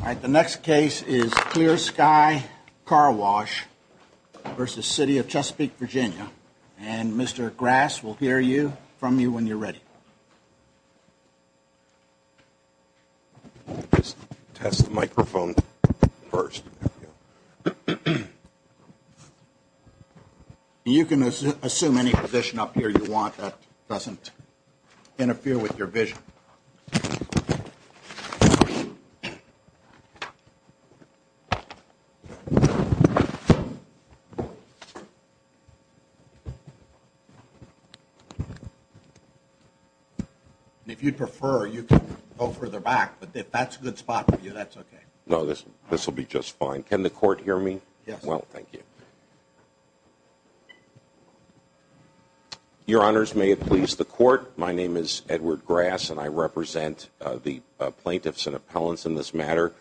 All right, the next case is Clear Sky Car Wash versus City of Chesapeake, Virginia. And Mr. Grass will hear you, from you, when you're ready. Test the microphone first. Thank you. You can assume any position up here you want. That doesn't interfere with your vision. If you'd prefer, you can go further back, but if that's a good spot for you, that's okay. No, this will be just fine. Can the court hear me? Yes. Well, thank you. Your Honors, may it please the court, my name is Edward Grass, and I represent the plaintiffs and appellants in this matter,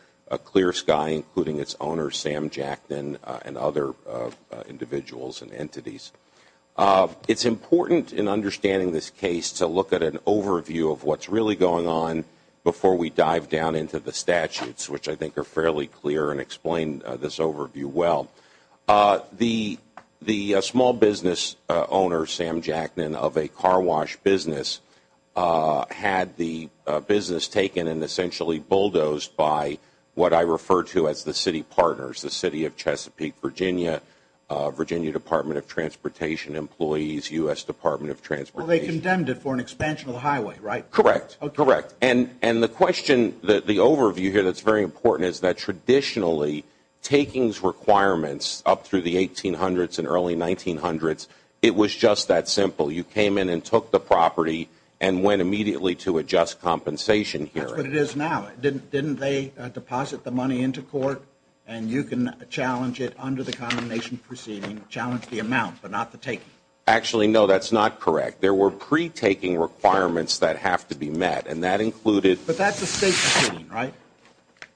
Clear Sky, including its owner, Sam Jackdon, and other individuals and entities. It's important in understanding this case to look at an overview of what's really going on before we dive down into the statutes, which I think are fairly clear and explain this overview well. The small business owner, Sam Jackdon, of a car wash business had the business taken and essentially bulldozed by what I refer to as the city partners, the City of Chesapeake, Virginia, Virginia Department of Transportation employees, U.S. Department of Transportation. Well, they condemned it for an expansion of the highway, right? Correct. Correct. And the question, the overview here that's very important is that traditionally, takings requirements up through the 1800s and early 1900s, it was just that simple. You came in and took the property and went immediately to a just compensation hearing. That's what it is now. Didn't they deposit the money into court, and you can challenge it under the condemnation proceeding, challenge the amount, but not the taking? Actually, no, that's not correct. There were pre-taking requirements that have to be met, and that included- But that's a state proceeding, right?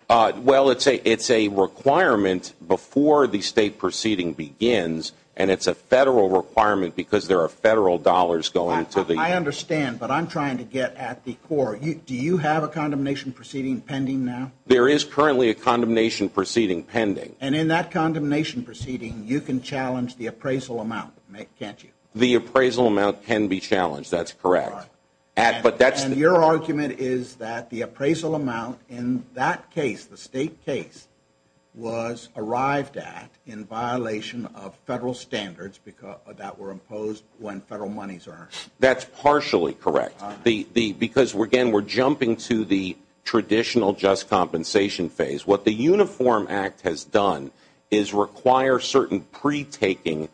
Well, it's a requirement before the state proceeding begins, and it's a federal requirement because there are federal dollars going to the- I understand, but I'm trying to get at the core. Do you have a condemnation proceeding pending now? There is currently a condemnation proceeding pending. And in that condemnation proceeding, you can challenge the appraisal amount, can't you? The appraisal amount can be challenged. That's correct. And your argument is that the appraisal amount in that case, the state case, was arrived at in violation of federal standards that were imposed when federal monies are- That's partially correct. Because, again, we're jumping to the traditional just compensation phase. What the Uniform Act has done is require certain pre-taking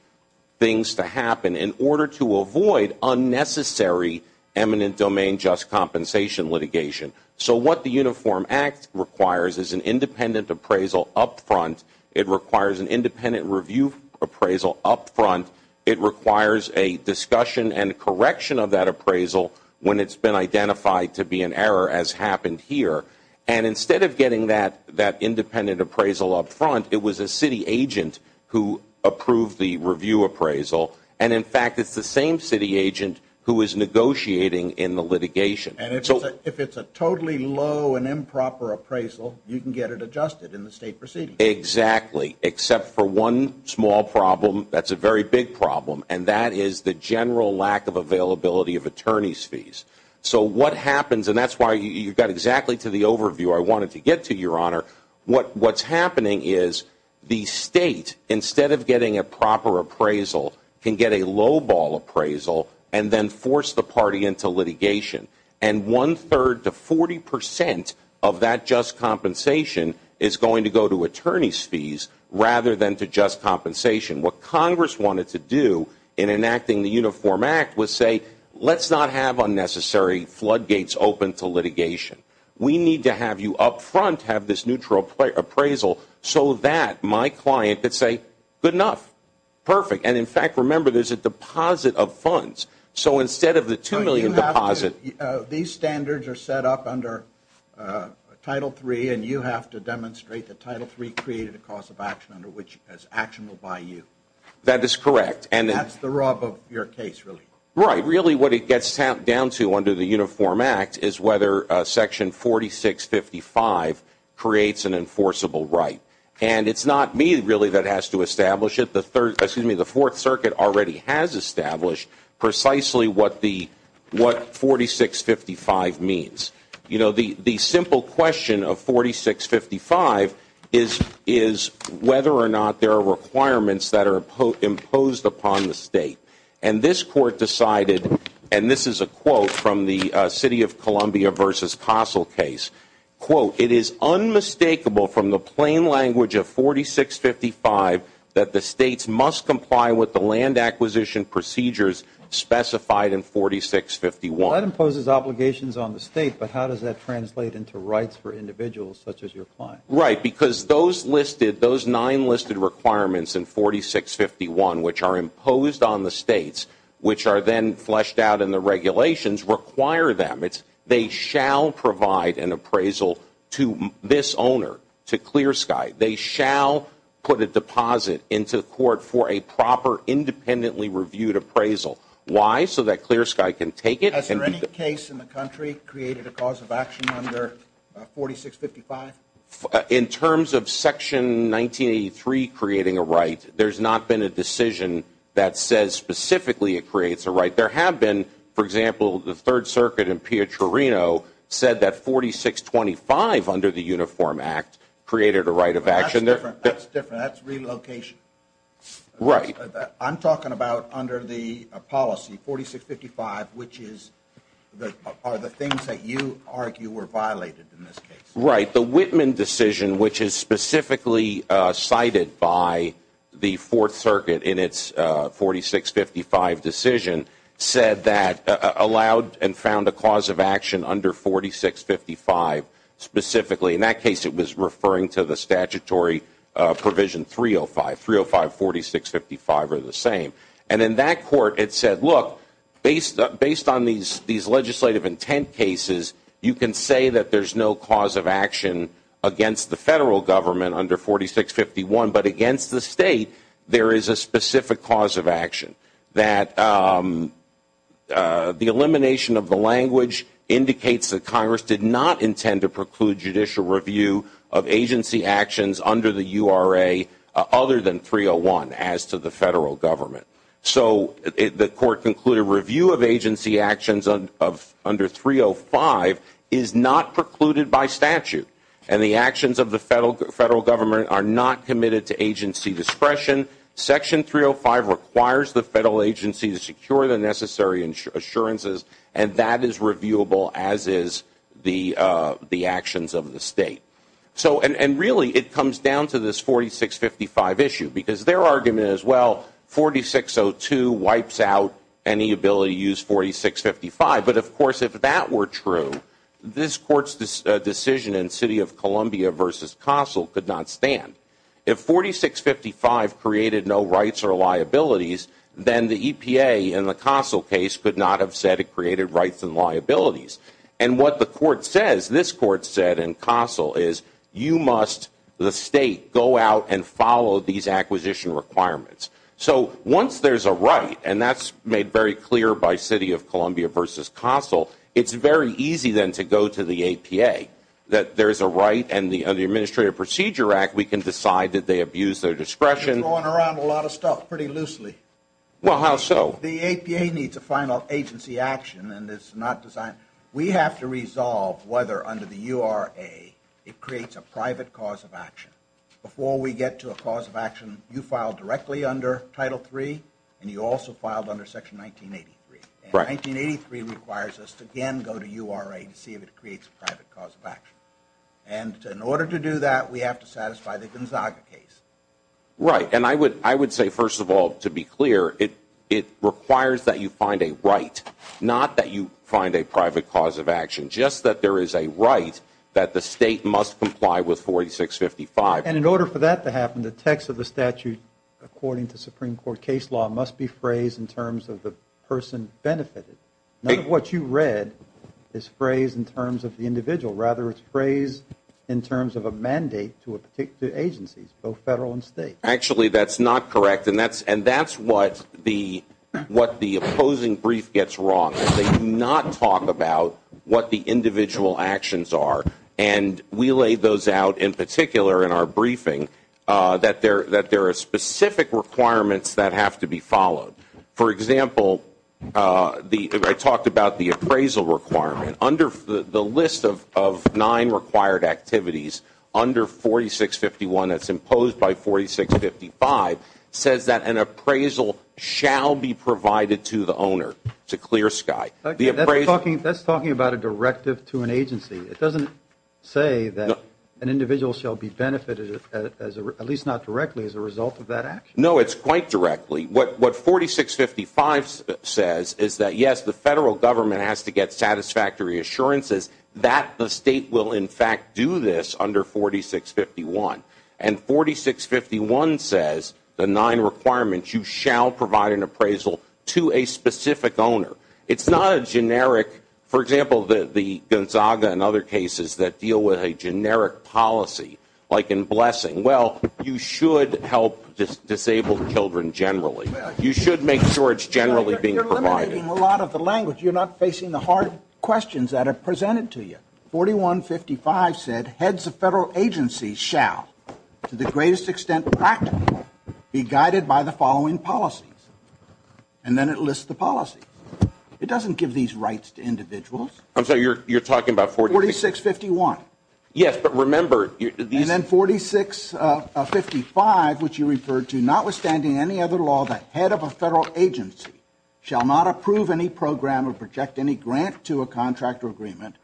things to happen in order to avoid unnecessary eminent domain just compensation litigation. So what the Uniform Act requires is an independent appraisal up front. It requires an independent review appraisal up front. It requires a discussion and correction of that appraisal when it's been identified to be an error, as happened here. And instead of getting that independent appraisal up front, it was a city agent who approved the review appraisal. And, in fact, it's the same city agent who is negotiating in the litigation. And if it's a totally low and improper appraisal, you can get it adjusted in the state proceeding. Exactly, except for one small problem that's a very big problem, So what happens, and that's why you got exactly to the overview I wanted to get to, Your Honor, what's happening is the state, instead of getting a proper appraisal, can get a low-ball appraisal and then force the party into litigation. And one-third to 40% of that just compensation is going to go to attorney's fees rather than to just compensation. What Congress wanted to do in enacting the Uniform Act was say, let's not have unnecessary floodgates open to litigation. We need to have you up front have this neutral appraisal so that my client could say, good enough. Perfect. And, in fact, remember, there's a deposit of funds. So instead of the $2 million deposit. These standards are set up under Title III, and you have to demonstrate that Title III created a cause of action under which action will buy you. That is correct. That's the rub of your case, really. Right. Really what it gets down to under the Uniform Act is whether Section 4655 creates an enforceable right. And it's not me, really, that has to establish it. The Fourth Circuit already has established precisely what 4655 means. You know, the simple question of 4655 is whether or not there are requirements that are imposed upon the State. And this Court decided, and this is a quote from the City of Columbia versus Castle case, quote, it is unmistakable from the plain language of 4655 that the States must comply with the land acquisition procedures specified in 4651. Well, that imposes obligations on the State, but how does that translate into rights for individuals such as your client? Right, because those listed, those nine listed requirements in 4651 which are imposed on the States, which are then fleshed out in the regulations, require them. They shall provide an appraisal to this owner, to Clear Sky. They shall put a deposit into the Court for a proper independently reviewed appraisal. Why? So that Clear Sky can take it. Has there any case in the country created a cause of action under 4655? In terms of Section 1983 creating a right, there's not been a decision that says specifically it creates a right. There have been, for example, the Third Circuit in Pietrino said that 4625 under the Uniform Act created a right of action. That's different. That's different. That's relocation. Right. I'm talking about under the policy, 4655, which are the things that you argue were violated in this case. Right. The Whitman decision, which is specifically cited by the Fourth Circuit in its 4655 decision, said that allowed and found a cause of action under 4655 specifically. In that case, it was referring to the statutory provision 305. 305, 4655 are the same. And in that court, it said, look, based on these legislative intent cases, you can say that there's no cause of action against the Federal Government under 4651, but against the State there is a specific cause of action. That the elimination of the language indicates that Congress did not intend to preclude judicial review of agency actions under the URA other than 301 as to the Federal Government. So the court concluded review of agency actions under 305 is not precluded by statute, and the actions of the Federal Government are not committed to agency discretion. Section 305 requires the Federal agency to secure the necessary assurances, and that is reviewable as is the actions of the State. And really, it comes down to this 4655 issue, because their argument is, well, 4602 wipes out any ability to use 4655. But of course, if that were true, this Court's decision in City of Columbia v. Castle could not stand. If 4655 created no rights or liabilities, then the EPA in the Castle case could not have said it created rights and liabilities. And what the Court says, this Court said in Castle is, you must, the State, go out and follow these acquisition requirements. So once there's a right, and that's made very clear by City of Columbia v. Castle, it's very easy then to go to the EPA. That there's a right, and under the Administrative Procedure Act, we can decide that they abuse their discretion. You're throwing around a lot of stuff pretty loosely. Well, how so? The EPA needs a final agency action, and it's not designed. We have to resolve whether under the URA it creates a private cause of action. Before we get to a cause of action, you filed directly under Title III, and you also filed under Section 1983. And 1983 requires us to again go to URA to see if it creates a private cause of action. And in order to do that, we have to satisfy the Gonzaga case. Right. And I would say, first of all, to be clear, it requires that you find a right, not that you find a private cause of action. Just that there is a right that the State must comply with 4655. And in order for that to happen, the text of the statute, according to Supreme Court case law, must be phrased in terms of the person benefited. None of what you read is phrased in terms of the individual. Rather, it's phrased in terms of a mandate to agencies, both federal and state. Actually, that's not correct, and that's what the opposing brief gets wrong. They do not talk about what the individual actions are. And we laid those out in particular in our briefing that there are specific requirements that have to be followed. For example, I talked about the appraisal requirement. The list of nine required activities under 4651 that's imposed by 4655 says that an appraisal shall be provided to the owner to clear sky. That's talking about a directive to an agency. It doesn't say that an individual shall be benefited, at least not directly, as a result of that action. No, it's quite directly. What 4655 says is that, yes, the federal government has to get satisfactory assurances that the state will, in fact, do this under 4651. And 4651 says the nine requirements, you shall provide an appraisal to a specific owner. It's not a generic, for example, the Gonzaga and other cases that deal with a generic policy, like in blessing. Well, you should help disabled children generally. You should make sure it's generally being provided. You're eliminating a lot of the language. You're not facing the hard questions that are presented to you. 4155 said heads of federal agencies shall, to the greatest extent practical, be guided by the following policies. And then it lists the policies. It doesn't give these rights to individuals. I'm sorry. You're talking about 4651. Yes, but remember. And then 4655, which you referred to, notwithstanding any other law, the head of a federal agency shall not approve any program or project any grant to a contract or agreement,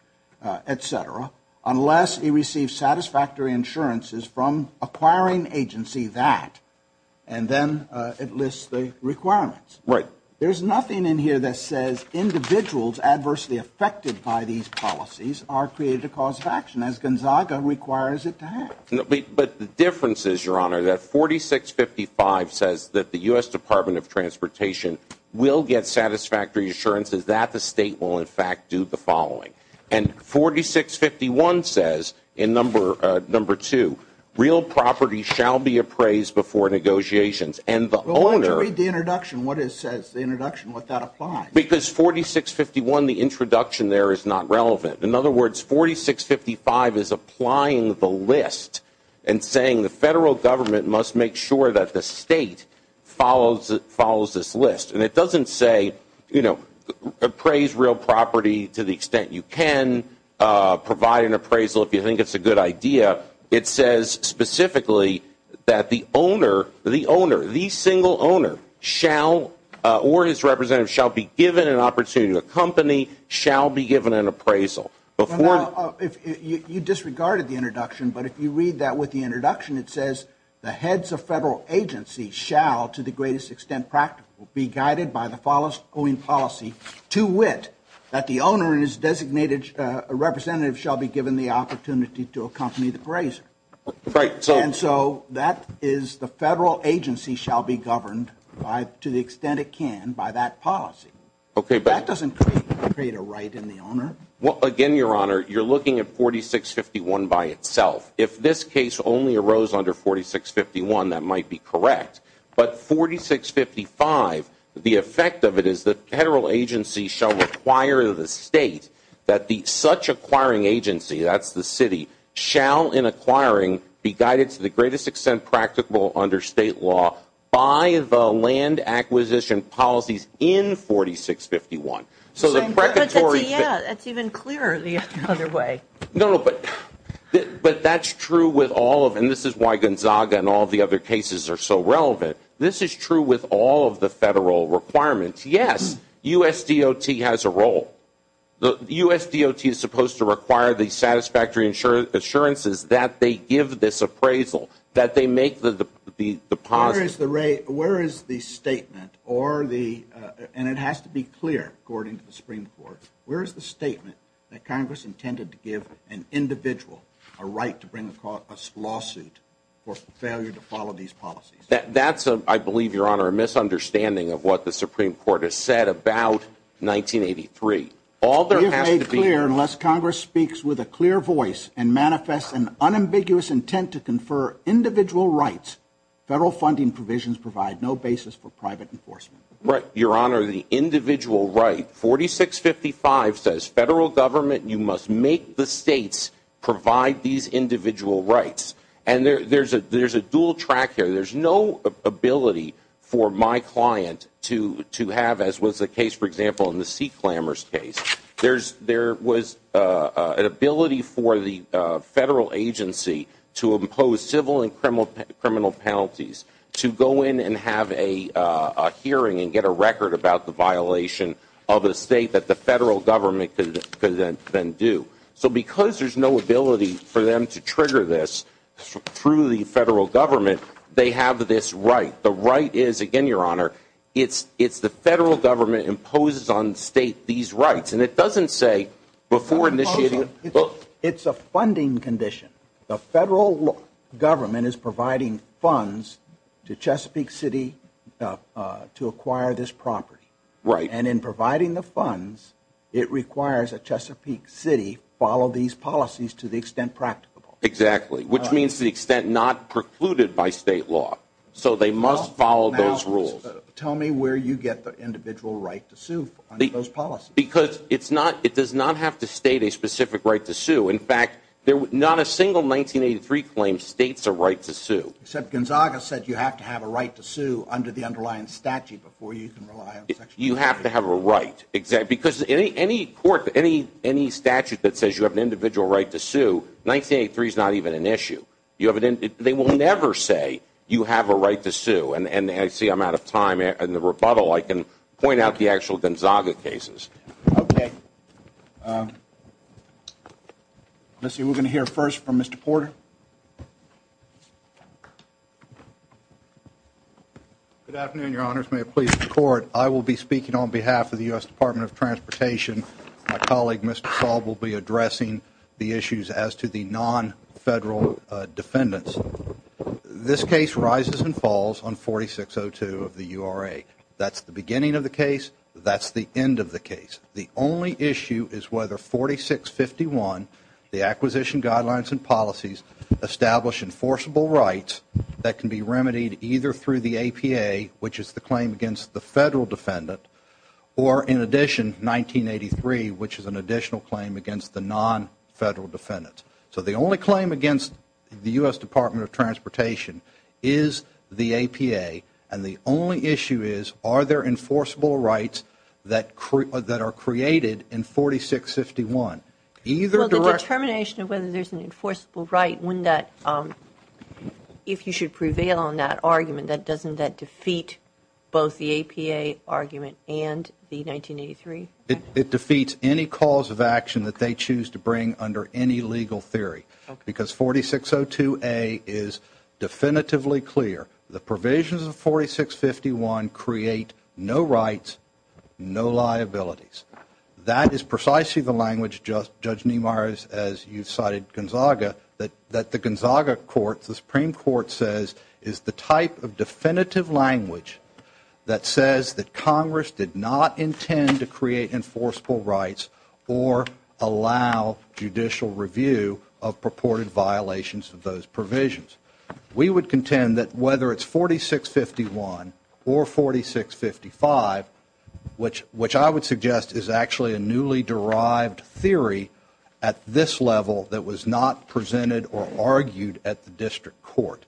et cetera, unless he receives satisfactory insurances from acquiring agency that. And then it lists the requirements. Right. There's nothing in here that says individuals adversely affected by these policies are created a cause of action, as Gonzaga requires it to have. But the difference is, Your Honor, that 4655 says that the U.S. Department of Transportation will get satisfactory assurances that the state will, in fact, do the following. And 4651 says in number two, real property shall be appraised before negotiations. Well, why don't you read the introduction, what it says, the introduction, what that applies. Because 4651, the introduction there is not relevant. In other words, 4655 is applying the list and saying the federal government must make sure that the state follows this list. And it doesn't say, you know, appraise real property to the extent you can, provide an appraisal if you think it's a good idea. It says specifically that the owner, the owner, the single owner shall, or his representative, shall be given an opportunity to accompany, shall be given an appraisal. You disregarded the introduction, but if you read that with the introduction, it says, the heads of federal agencies shall, to the greatest extent practical, be guided by the following policy, to wit, that the owner and his designated representative shall be given the opportunity to accompany the appraiser. Right. And so that is the federal agency shall be governed by, to the extent it can, by that policy. Okay. That doesn't create a right in the owner. Well, again, Your Honor, you're looking at 4651 by itself. If this case only arose under 4651, that might be correct. But 4655, the effect of it is the federal agency shall require the state that the such acquiring agency, that's the city, shall in acquiring be guided to the greatest extent practical under state law by the land acquisition policies in 4651. So the precatory. Yeah, that's even clearer the other way. No, but that's true with all of them. This is why Gonzaga and all the other cases are so relevant. This is true with all of the federal requirements. Yes, USDOT has a role. The USDOT is supposed to require the satisfactory assurances that they give this appraisal, that they make the deposit. Where is the statement or the, and it has to be clear, according to the Supreme Court, where is the statement that Congress intended to give an individual a right to bring across a lawsuit for failure to follow these policies? That's, I believe, Your Honor, a misunderstanding of what the Supreme Court has said about 1983. All there has to be clear, unless Congress speaks with a clear voice and manifests an unambiguous intent to confer individual rights, federal funding provisions provide no basis for private enforcement. Your Honor, the individual right, 4655, says federal government, you must make the states provide these individual rights. And there's a dual track here. There's no ability for my client to have, as was the case, for example, in the Sea Clambers case, there was an ability for the federal agency to impose civil and criminal penalties, to go in and have a hearing and get a record about the violation of a state that the federal government could then do. So because there's no ability for them to trigger this through the federal government, they have this right. The right is, again, Your Honor, it's the federal government imposes on the state these rights. And it doesn't say before initiating. It's a funding condition. The federal government is providing funds to Chesapeake City to acquire this property. Right. And in providing the funds, it requires that Chesapeake City follow these policies to the extent practicable. Exactly, which means to the extent not precluded by state law. So they must follow those rules. Now, tell me where you get the individual right to sue under those policies. Because it does not have to state a specific right to sue. In fact, not a single 1983 claim states a right to sue. Except Gonzaga said you have to have a right to sue under the underlying statute before you can rely on Section 183. You have to have a right. Because any statute that says you have an individual right to sue, 1983 is not even an issue. They will never say you have a right to sue. And I see I'm out of time. In the rebuttal, I can point out the actual Gonzaga cases. Okay. Let's see. We're going to hear first from Mr. Porter. Good afternoon, Your Honors. May it please the Court. I will be speaking on behalf of the U.S. Department of Transportation. My colleague, Mr. Saul, will be addressing the issues as to the nonfederal defendants. This case rises and falls on 4602 of the URA. That's the beginning of the case. That's the end of the case. The only issue is whether 4651, the Acquisition Guidelines and Policies, establish enforceable rights that can be remedied either through the APA, which is the claim against the federal defendant, or in addition, 1983, which is an additional claim against the nonfederal defendants. So the only claim against the U.S. Department of Transportation is the APA, and the only issue is are there enforceable rights that are created in 4651. Well, the determination of whether there's an enforceable right, if you should prevail on that argument, doesn't that defeat both the APA argument and the 1983? It defeats any cause of action that they choose to bring under any legal theory because 4602A is definitively clear. The provisions of 4651 create no rights, no liabilities. That is precisely the language, Judge Niemeyer, as you cited Gonzaga, that the Gonzaga Court, the Supreme Court says is the type of definitive language that says that Congress did not intend to create enforceable rights or allow judicial review of purported violations of those provisions. We would contend that whether it's 4651 or 4655, which I would suggest is actually a newly derived theory at this level that was not presented or argued at the district court.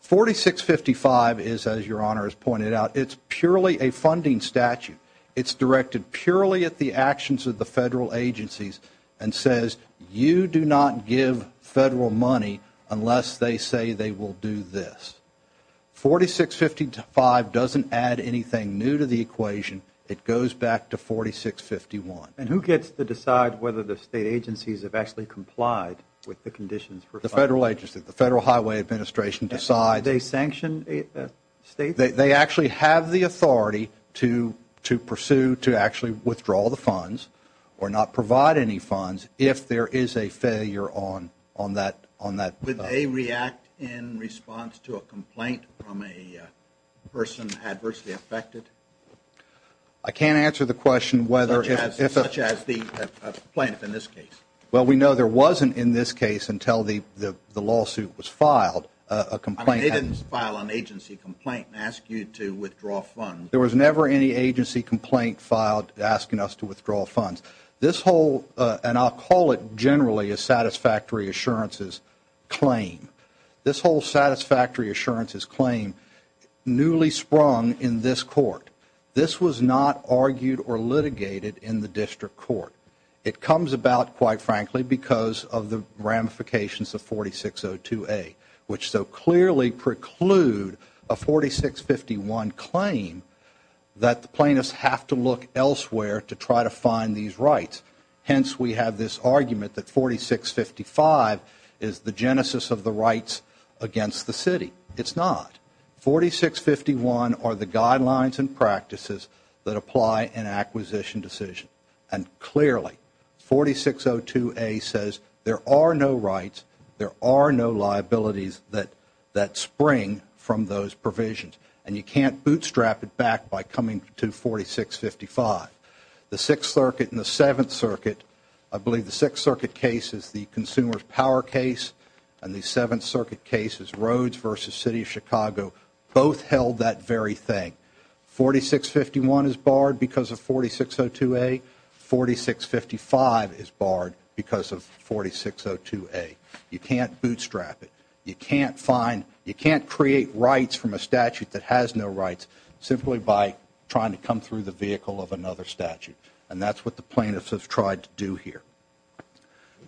4655 is, as Your Honor has pointed out, it's purely a funding statute. It's directed purely at the actions of the federal agencies and says you do not give federal money unless they say they will do this. 4655 doesn't add anything new to the equation. It goes back to 4651. And who gets to decide whether the state agencies have actually complied with the conditions for funding? The federal agencies. The Federal Highway Administration decides. Do they sanction states? They actually have the authority to pursue, to actually withdraw the funds or not provide any funds if there is a failure on that. Would they react in response to a complaint from a person adversely affected? I can't answer the question whether. Such as the plaintiff in this case. Well, we know there wasn't in this case until the lawsuit was filed a complaint. I mean, they didn't file an agency complaint and ask you to withdraw funds. There was never any agency complaint filed asking us to withdraw funds. And I'll call it generally a satisfactory assurances claim. This whole satisfactory assurances claim newly sprung in this court. This was not argued or litigated in the district court. It comes about, quite frankly, because of the ramifications of 4602A, which so clearly preclude a 4651 claim that the plaintiffs have to look elsewhere to try to find these rights. Hence, we have this argument that 4655 is the genesis of the rights against the city. It's not. 4651 are the guidelines and practices that apply an acquisition decision. And clearly, 4602A says there are no rights, there are no liabilities that spring from those provisions. And you can't bootstrap it back by coming to 4655. The Sixth Circuit and the Seventh Circuit, I believe the Sixth Circuit case is the consumer's power case, and the Seventh Circuit case is Rhodes v. City of Chicago. Both held that very thing. 4651 is barred because of 4602A. 4655 is barred because of 4602A. You can't bootstrap it. You can't create rights from a statute that has no rights simply by trying to come through the vehicle of another statute. And that's what the plaintiffs have tried to do here.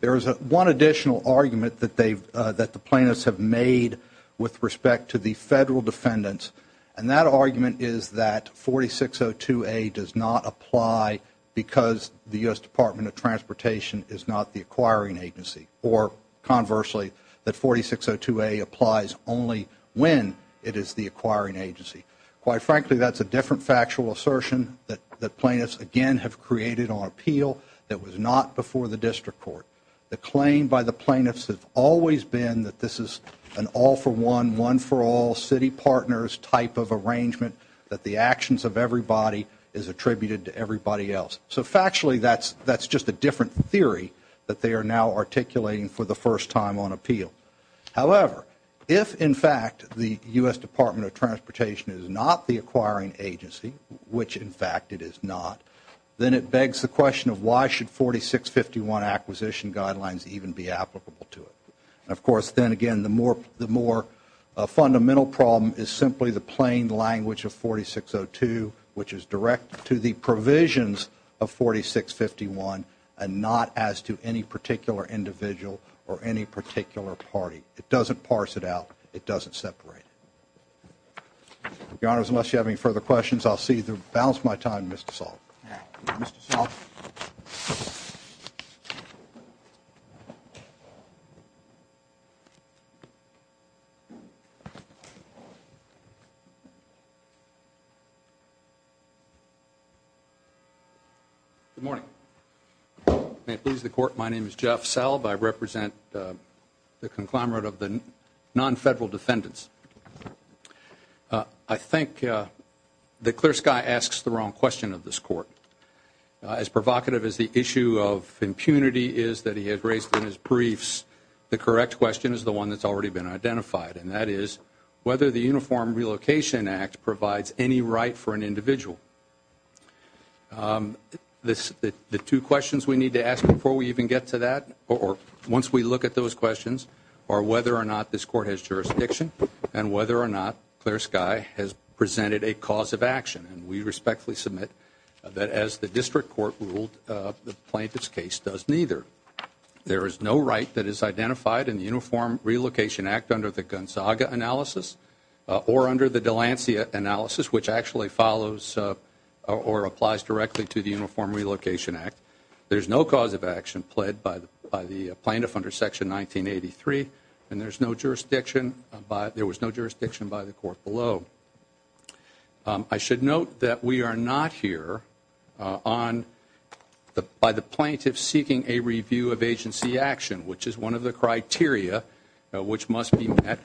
There is one additional argument that the plaintiffs have made with respect to the Federal defendants, and that argument is that 4602A does not apply because the U.S. Department of Transportation is not the acquiring agency. Or, conversely, that 4602A applies only when it is the acquiring agency. Quite frankly, that's a different factual assertion that the plaintiffs, again, have created on appeal that was not before the District Court. The claim by the plaintiffs have always been that this is an all-for-one, one-for-all, city partners type of arrangement, that the actions of everybody is attributed to everybody else. So, factually, that's just a different theory that they are now articulating for the first time on appeal. However, if, in fact, the U.S. Department of Transportation is not the acquiring agency, which, in fact, it is not, then it begs the question of why should 4651 acquisition guidelines even be applicable to it. And, of course, then, again, the more fundamental problem is simply the plain the provisions of 4651 and not as to any particular individual or any particular party. It doesn't parse it out. It doesn't separate it. Your Honors, unless you have any further questions, I'll cede the balance of my time to Mr. Salk. All right. Mr. Salk. Good morning. May it please the Court, my name is Jeff Salk. I represent the conglomerate of the non-federal defendants. I think that Clear Sky asks the wrong question of this Court. As provocative as the issue of impunity is that he has raised in his briefs, the correct question is the one that's already been identified, and that is whether the Uniform Relocation Act provides any right for an individual. The two questions we need to ask before we even get to that, or once we look at those questions, are whether or not this Court has jurisdiction and whether or not Clear Sky has presented a cause of action. And we respectfully submit that as the District Court ruled, the plaintiff's case does neither. There is no right that is identified in the Uniform Relocation Act under the Gonzaga analysis or under the Delancia analysis, which actually follows or applies directly to the Uniform Relocation Act. There's no cause of action pled by the plaintiff under Section 1983, and there was no jurisdiction by the Court below. I should note that we are not here by the plaintiff seeking a review of agency action, which is one of the criteria which must be met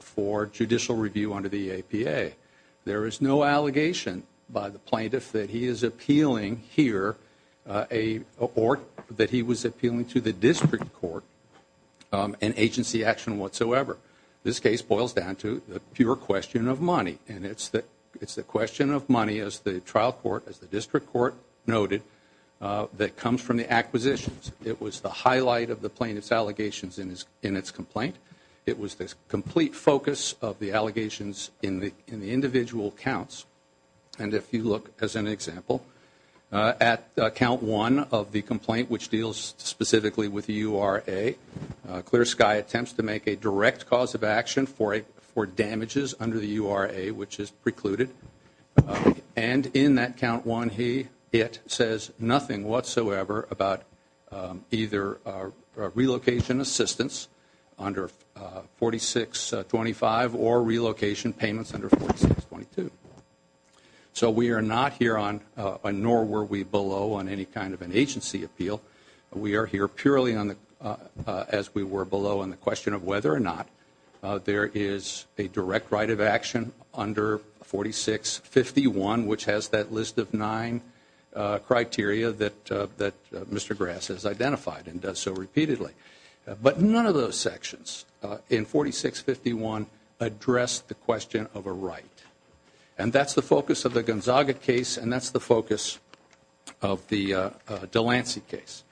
for judicial review under the APA. There is no allegation by the plaintiff that he is appealing here or that he was appealing to the District Court in agency action whatsoever. This case boils down to the pure question of money, and it's the question of money, as the trial court, as the District Court noted, that comes from the acquisitions. It was the highlight of the plaintiff's allegations in its complaint. It was the complete focus of the allegations in the individual counts. And if you look, as an example, at Count 1 of the complaint, which deals specifically with URA, Clear Sky attempts to make a direct cause of action for damages under the URA, which is precluded. And in that Count 1, it says nothing whatsoever about either relocation assistance under 4625 or relocation payments under 4622. So we are not here on, nor were we below on any kind of an agency appeal. We are here purely as we were below on the question of whether or not there is a direct right of action under 4651, which has that list of nine criteria that Mr. Grass has identified and does so repeatedly. But none of those sections in 4651 address the question of a right. And that's the focus of the Gonzaga case, and that's the focus of the DeLancey case.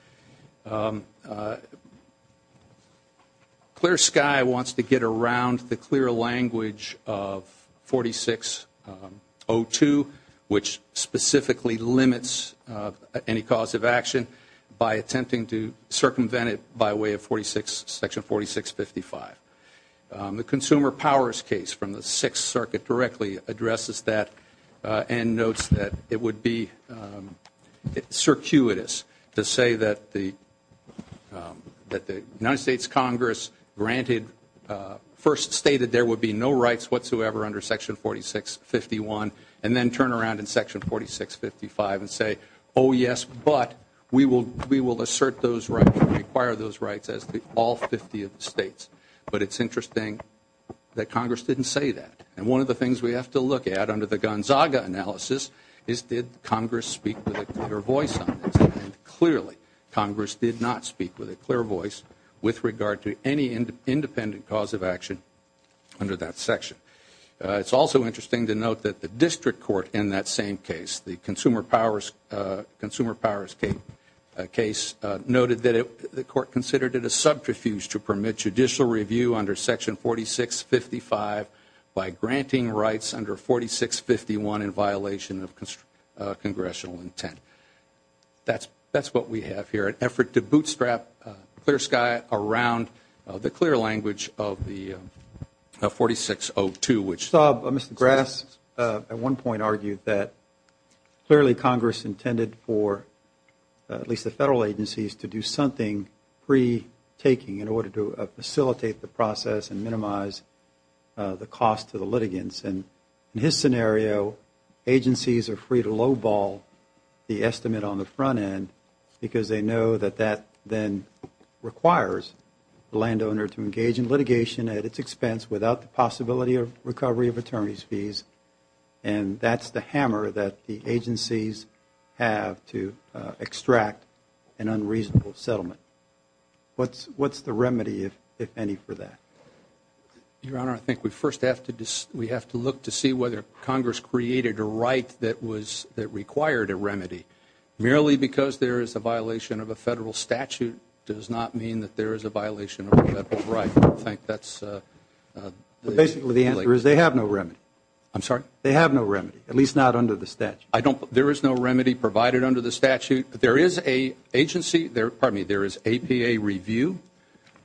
Clear Sky wants to get around the clear language of 4602, which specifically limits any cause of action by attempting to circumvent it by way of section 4655. The Consumer Powers case from the Sixth Circuit directly addresses that and notes that it would be circuitous to say that the United States Congress granted first stated there would be no rights whatsoever under section 4651 and then turn around in section 4655 and say, oh, yes, but we will assert those rights and require those rights as to all 50 of the states. But it's interesting that Congress didn't say that. And one of the things we have to look at under the Gonzaga analysis is did Congress speak with a clear voice on this. And clearly Congress did not speak with a clear voice with regard to any independent cause of action under that section. It's also interesting to note that the district court in that same case, the Consumer Powers case noted that the court considered it a subterfuge to permit judicial review under section 4655 by granting rights under 4651 in violation of congressional intent. That's what we have here, an effort to bootstrap Clear Sky around the clear language of the 4602. Mr. Grass at one point argued that clearly Congress intended for at least the federal agencies to do something pre-taking in order to facilitate the process and minimize the cost to the litigants. And in his scenario, agencies are free to lowball the estimate on the front end because they know that that then requires the landowner to engage in litigation at its expense without the possibility of recovery of attorney's fees. And that's the hammer that the agencies have to extract an unreasonable settlement. What's the remedy, if any, for that? Your Honor, I think we first have to look to see whether Congress created a right that required a remedy. Merely because there is a violation of a federal statute does not mean that there is a violation of a federal right. I don't think that's the answer. Basically, the answer is they have no remedy. I'm sorry? They have no remedy, at least not under the statute. There is no remedy provided under the statute. There is a agency, pardon me, there is APA review,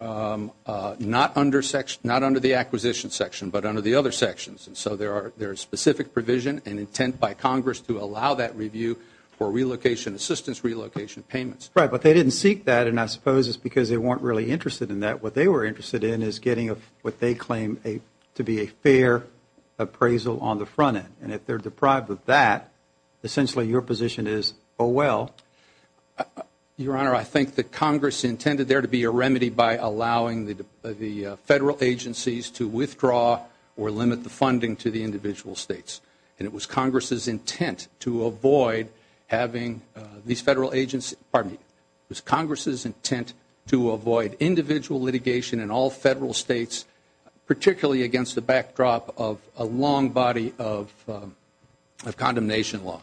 not under the acquisition section, but under the other sections. And so there is specific provision and intent by Congress to allow that review for relocation assistance, relocation payments. Right, but they didn't seek that, and I suppose it's because they weren't really interested in that. What they were interested in is getting what they claim to be a fair appraisal on the front end. And if they're deprived of that, essentially your position is, oh, well. Your Honor, I think that Congress intended there to be a remedy by allowing the federal agencies to withdraw or limit the funding to the individual states. And it was Congress's intent to avoid having these federal agencies, pardon me, it was Congress's intent to avoid individual litigation in all federal states, particularly against the backdrop of a long body of condemnation law.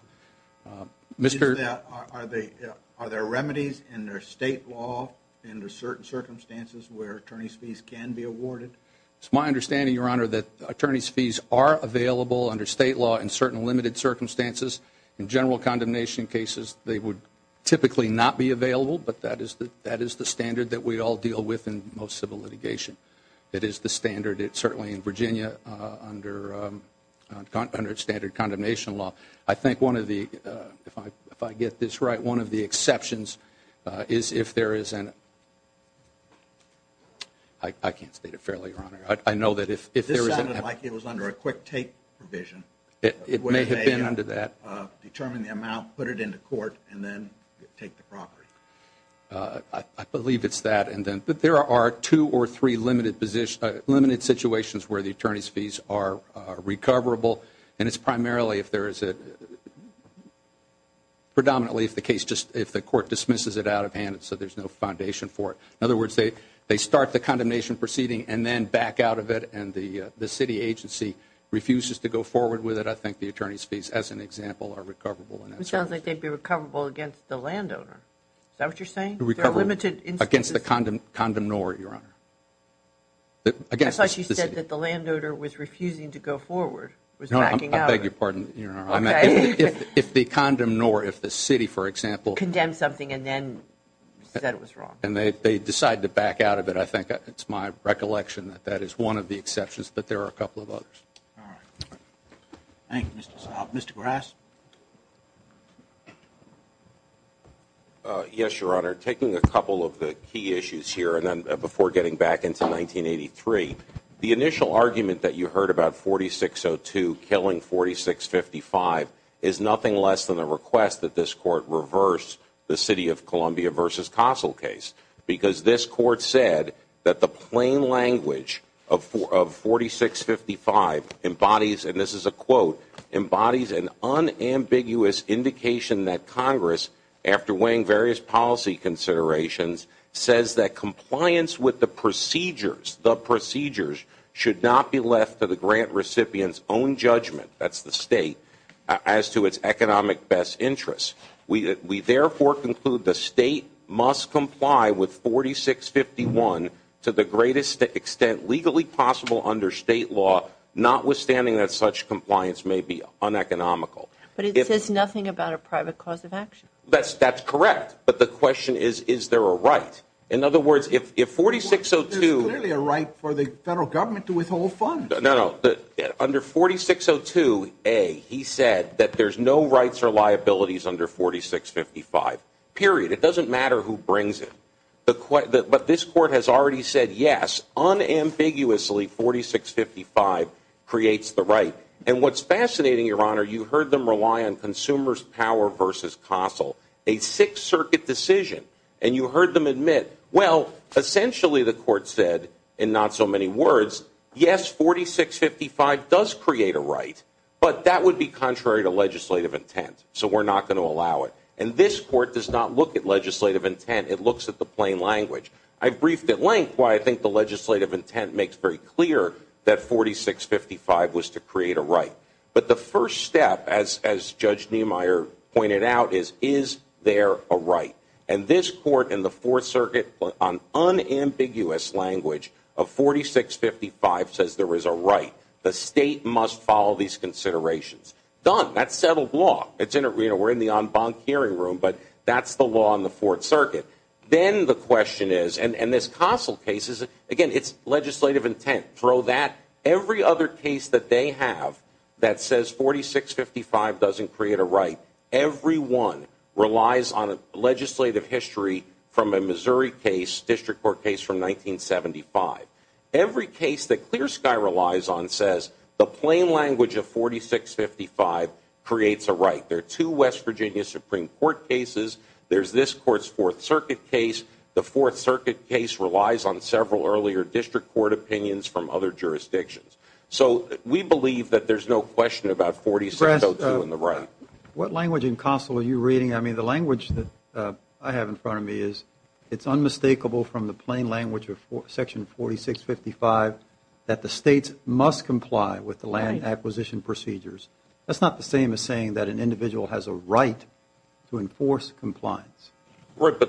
Are there remedies in their state law under certain circumstances where attorney's fees can be awarded? It's my understanding, Your Honor, that attorney's fees are available under state law in certain limited circumstances. In general condemnation cases, they would typically not be available, but that is the standard that we all deal with in most civil litigation. It is the standard certainly in Virginia under standard condemnation law. I think one of the, if I get this right, one of the exceptions is if there is an, I can't state it fairly, Your Honor. This sounded like it was under a quick take provision. It may have been under that. Determine the amount, put it into court, and then take the property. I believe it's that. But there are two or three limited situations where the attorney's fees are recoverable, and it's primarily if there is a, predominantly if the case just, if the court dismisses it out of hand so there's no foundation for it. In other words, they start the condemnation proceeding and then back out of it, and the city agency refuses to go forward with it. I think the attorney's fees, as an example, are recoverable in that circumstance. It sounds like they'd be recoverable against the landowner. Is that what you're saying? Recoverable against the condemnor, Your Honor. I thought you said that the landowner was refusing to go forward. No, I beg your pardon, Your Honor. If the condemnor, if the city, for example. Condemned something and then said it was wrong. And they decide to back out of it. I think it's my recollection that that is one of the exceptions, but there are a couple of others. All right. Thank you, Mr. Salk. Mr. Grass? Yes, Your Honor. Taking a couple of the key issues here, and then before getting back into 1983, the initial argument that you heard about 4602 killing 4655 is nothing less than the request that this Court reverse the City of Columbia v. Castle case. Because this Court said that the plain language of 4655 embodies, and this is a quote, embodies an unambiguous indication that Congress, after weighing various policy considerations, says that compliance with the procedures, the procedures, should not be left to the grant recipient's own judgment, that's the State, as to its economic best interests. We therefore conclude the State must comply with 4651 to the greatest extent legally possible under State law, notwithstanding that such compliance may be uneconomical. But it says nothing about a private cause of action. That's correct. But the question is, is there a right? In other words, if 4602- There's clearly a right for the Federal Government to withhold funds. No, no. Under 4602a, he said that there's no rights or liabilities under 4655, period. It doesn't matter who brings it. But this Court has already said, yes, unambiguously, 4655 creates the right. And what's fascinating, Your Honor, you heard them rely on consumers' power v. Castle, a Sixth Circuit decision, and you heard them admit, well, essentially the Court said, in not so many words, yes, 4655 does create a right, but that would be contrary to legislative intent. So we're not going to allow it. And this Court does not look at legislative intent. It looks at the plain language. I've briefed at length why I think the legislative intent makes very clear that 4655 was to create a right. But the first step, as Judge Niemeyer pointed out, is, is there a right? And this Court in the Fourth Circuit, on unambiguous language of 4655, says there is a right. The State must follow these considerations. Done. That's settled law. We're in the en banc hearing room, but that's the law in the Fourth Circuit. Then the question is, and this Castle case is, again, it's legislative intent. Throw that. Every other case that they have that says 4655 doesn't create a right, every one relies on a legislative history from a Missouri case, District Court case from 1975. Every case that Clear Sky relies on says the plain language of 4655 creates a right. There are two West Virginia Supreme Court cases. There's this Court's Fourth Circuit case. The Fourth Circuit case relies on several earlier District Court opinions from other jurisdictions. So we believe that there's no question about 4602 in the right. What language in Castle are you reading? I mean, the language that I have in front of me is it's unmistakable from the plain language of Section 4655 that the States must comply with the land acquisition procedures. That's not the same as saying that an individual has a right to enforce compliance. But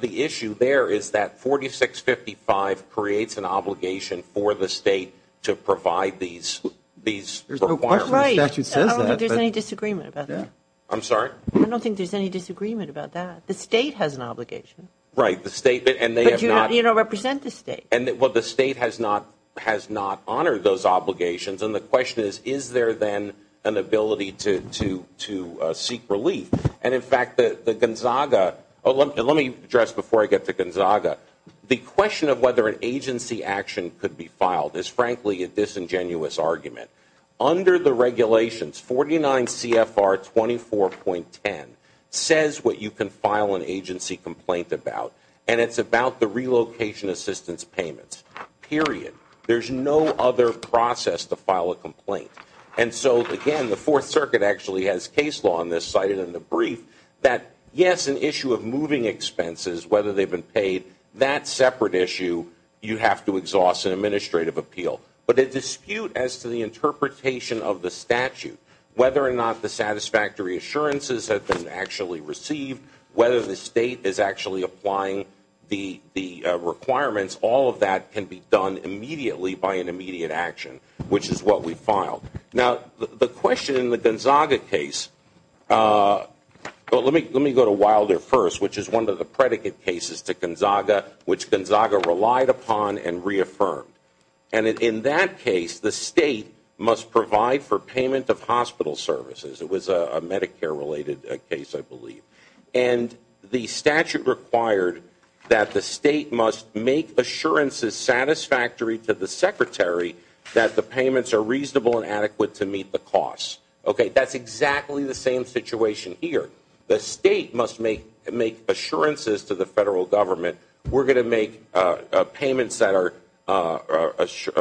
the issue there is that 4655 creates an obligation for the State to provide these requirements. There's no question the statute says that. I don't think there's any disagreement about that. I'm sorry? I don't think there's any disagreement about that. The State has an obligation. Right. But you don't represent the State. Well, the State has not honored those obligations. And the question is, is there then an ability to seek relief? And, in fact, the Gonzaga – let me address before I get to Gonzaga. The question of whether an agency action could be filed is, frankly, a disingenuous argument. Under the regulations, 49 CFR 24.10 says what you can file an agency complaint about, and it's about the relocation assistance payments, period. And so, again, the Fourth Circuit actually has case law on this cited in the brief that, yes, an issue of moving expenses, whether they've been paid, that's a separate issue. You have to exhaust an administrative appeal. But a dispute as to the interpretation of the statute, whether or not the satisfactory assurances have been actually received, whether the State is actually applying the requirements, all of that can be done immediately by an immediate action, which is what we filed. Now, the question in the Gonzaga case – well, let me go to Wilder first, which is one of the predicate cases to Gonzaga, which Gonzaga relied upon and reaffirmed. And in that case, the State must provide for payment of hospital services. It was a Medicare-related case, I believe. And the statute required that the State must make assurances satisfactory to the Secretary that the payments are reasonable and adequate to meet the costs. Okay? That's exactly the same situation here. The State must make assurances to the federal government, we're going to make payments that are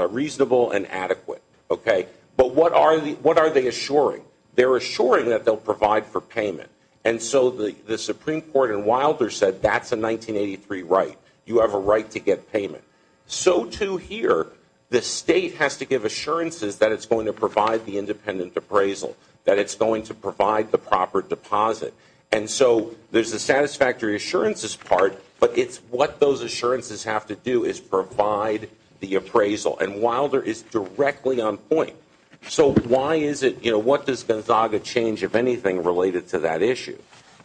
reasonable and adequate. Okay? But what are they assuring? They're assuring that they'll provide for payment. And so the Supreme Court in Wilder said that's a 1983 right. You have a right to get payment. So, too, here, the State has to give assurances that it's going to provide the independent appraisal, that it's going to provide the proper deposit. And so there's the satisfactory assurances part, but it's what those assurances have to do is provide the appraisal. And Wilder is directly on point. So why is it, you know, what does Gonzaga change, if anything, related to that issue?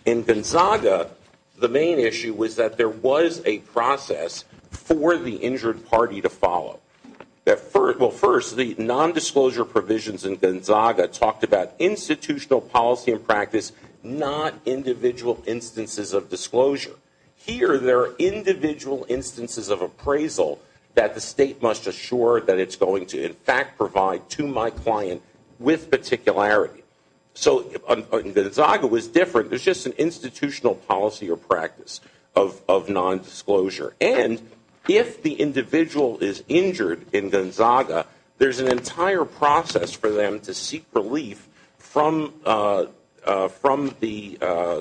In Gonzaga, the main issue was that there was a process for the injured party to follow. Well, first, the nondisclosure provisions in Gonzaga talked about institutional policy and practice, not individual instances of disclosure. Here, there are individual instances of appraisal that the State must assure that it's going to, in fact, provide to my client with particularity. So Gonzaga was different. It was just an institutional policy or practice of nondisclosure. And if the individual is injured in Gonzaga, there's an entire process for them to seek relief from the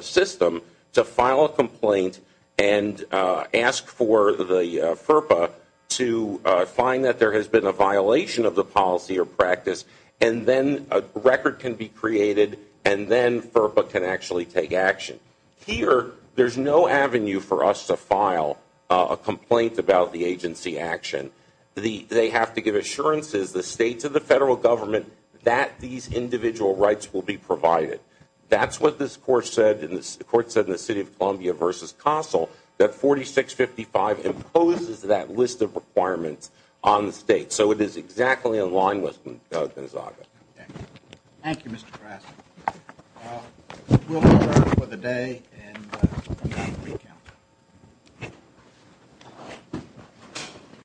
system to file a complaint and ask for the FERPA to find that there has been a violation of the policy or practice, and then a record can be created, and then FERPA can actually take action. Here, there's no avenue for us to file a complaint about the agency action. They have to give assurances, the States and the Federal Government, that these individual rights will be provided. That's what this Court said in the City of Columbia v. CASEL, that 4655 imposes that list of requirements on the State. So it is exactly in line with Gonzaga. Thank you, Mr. Grassley. We'll conclude for the day, and we'll come back for re-count.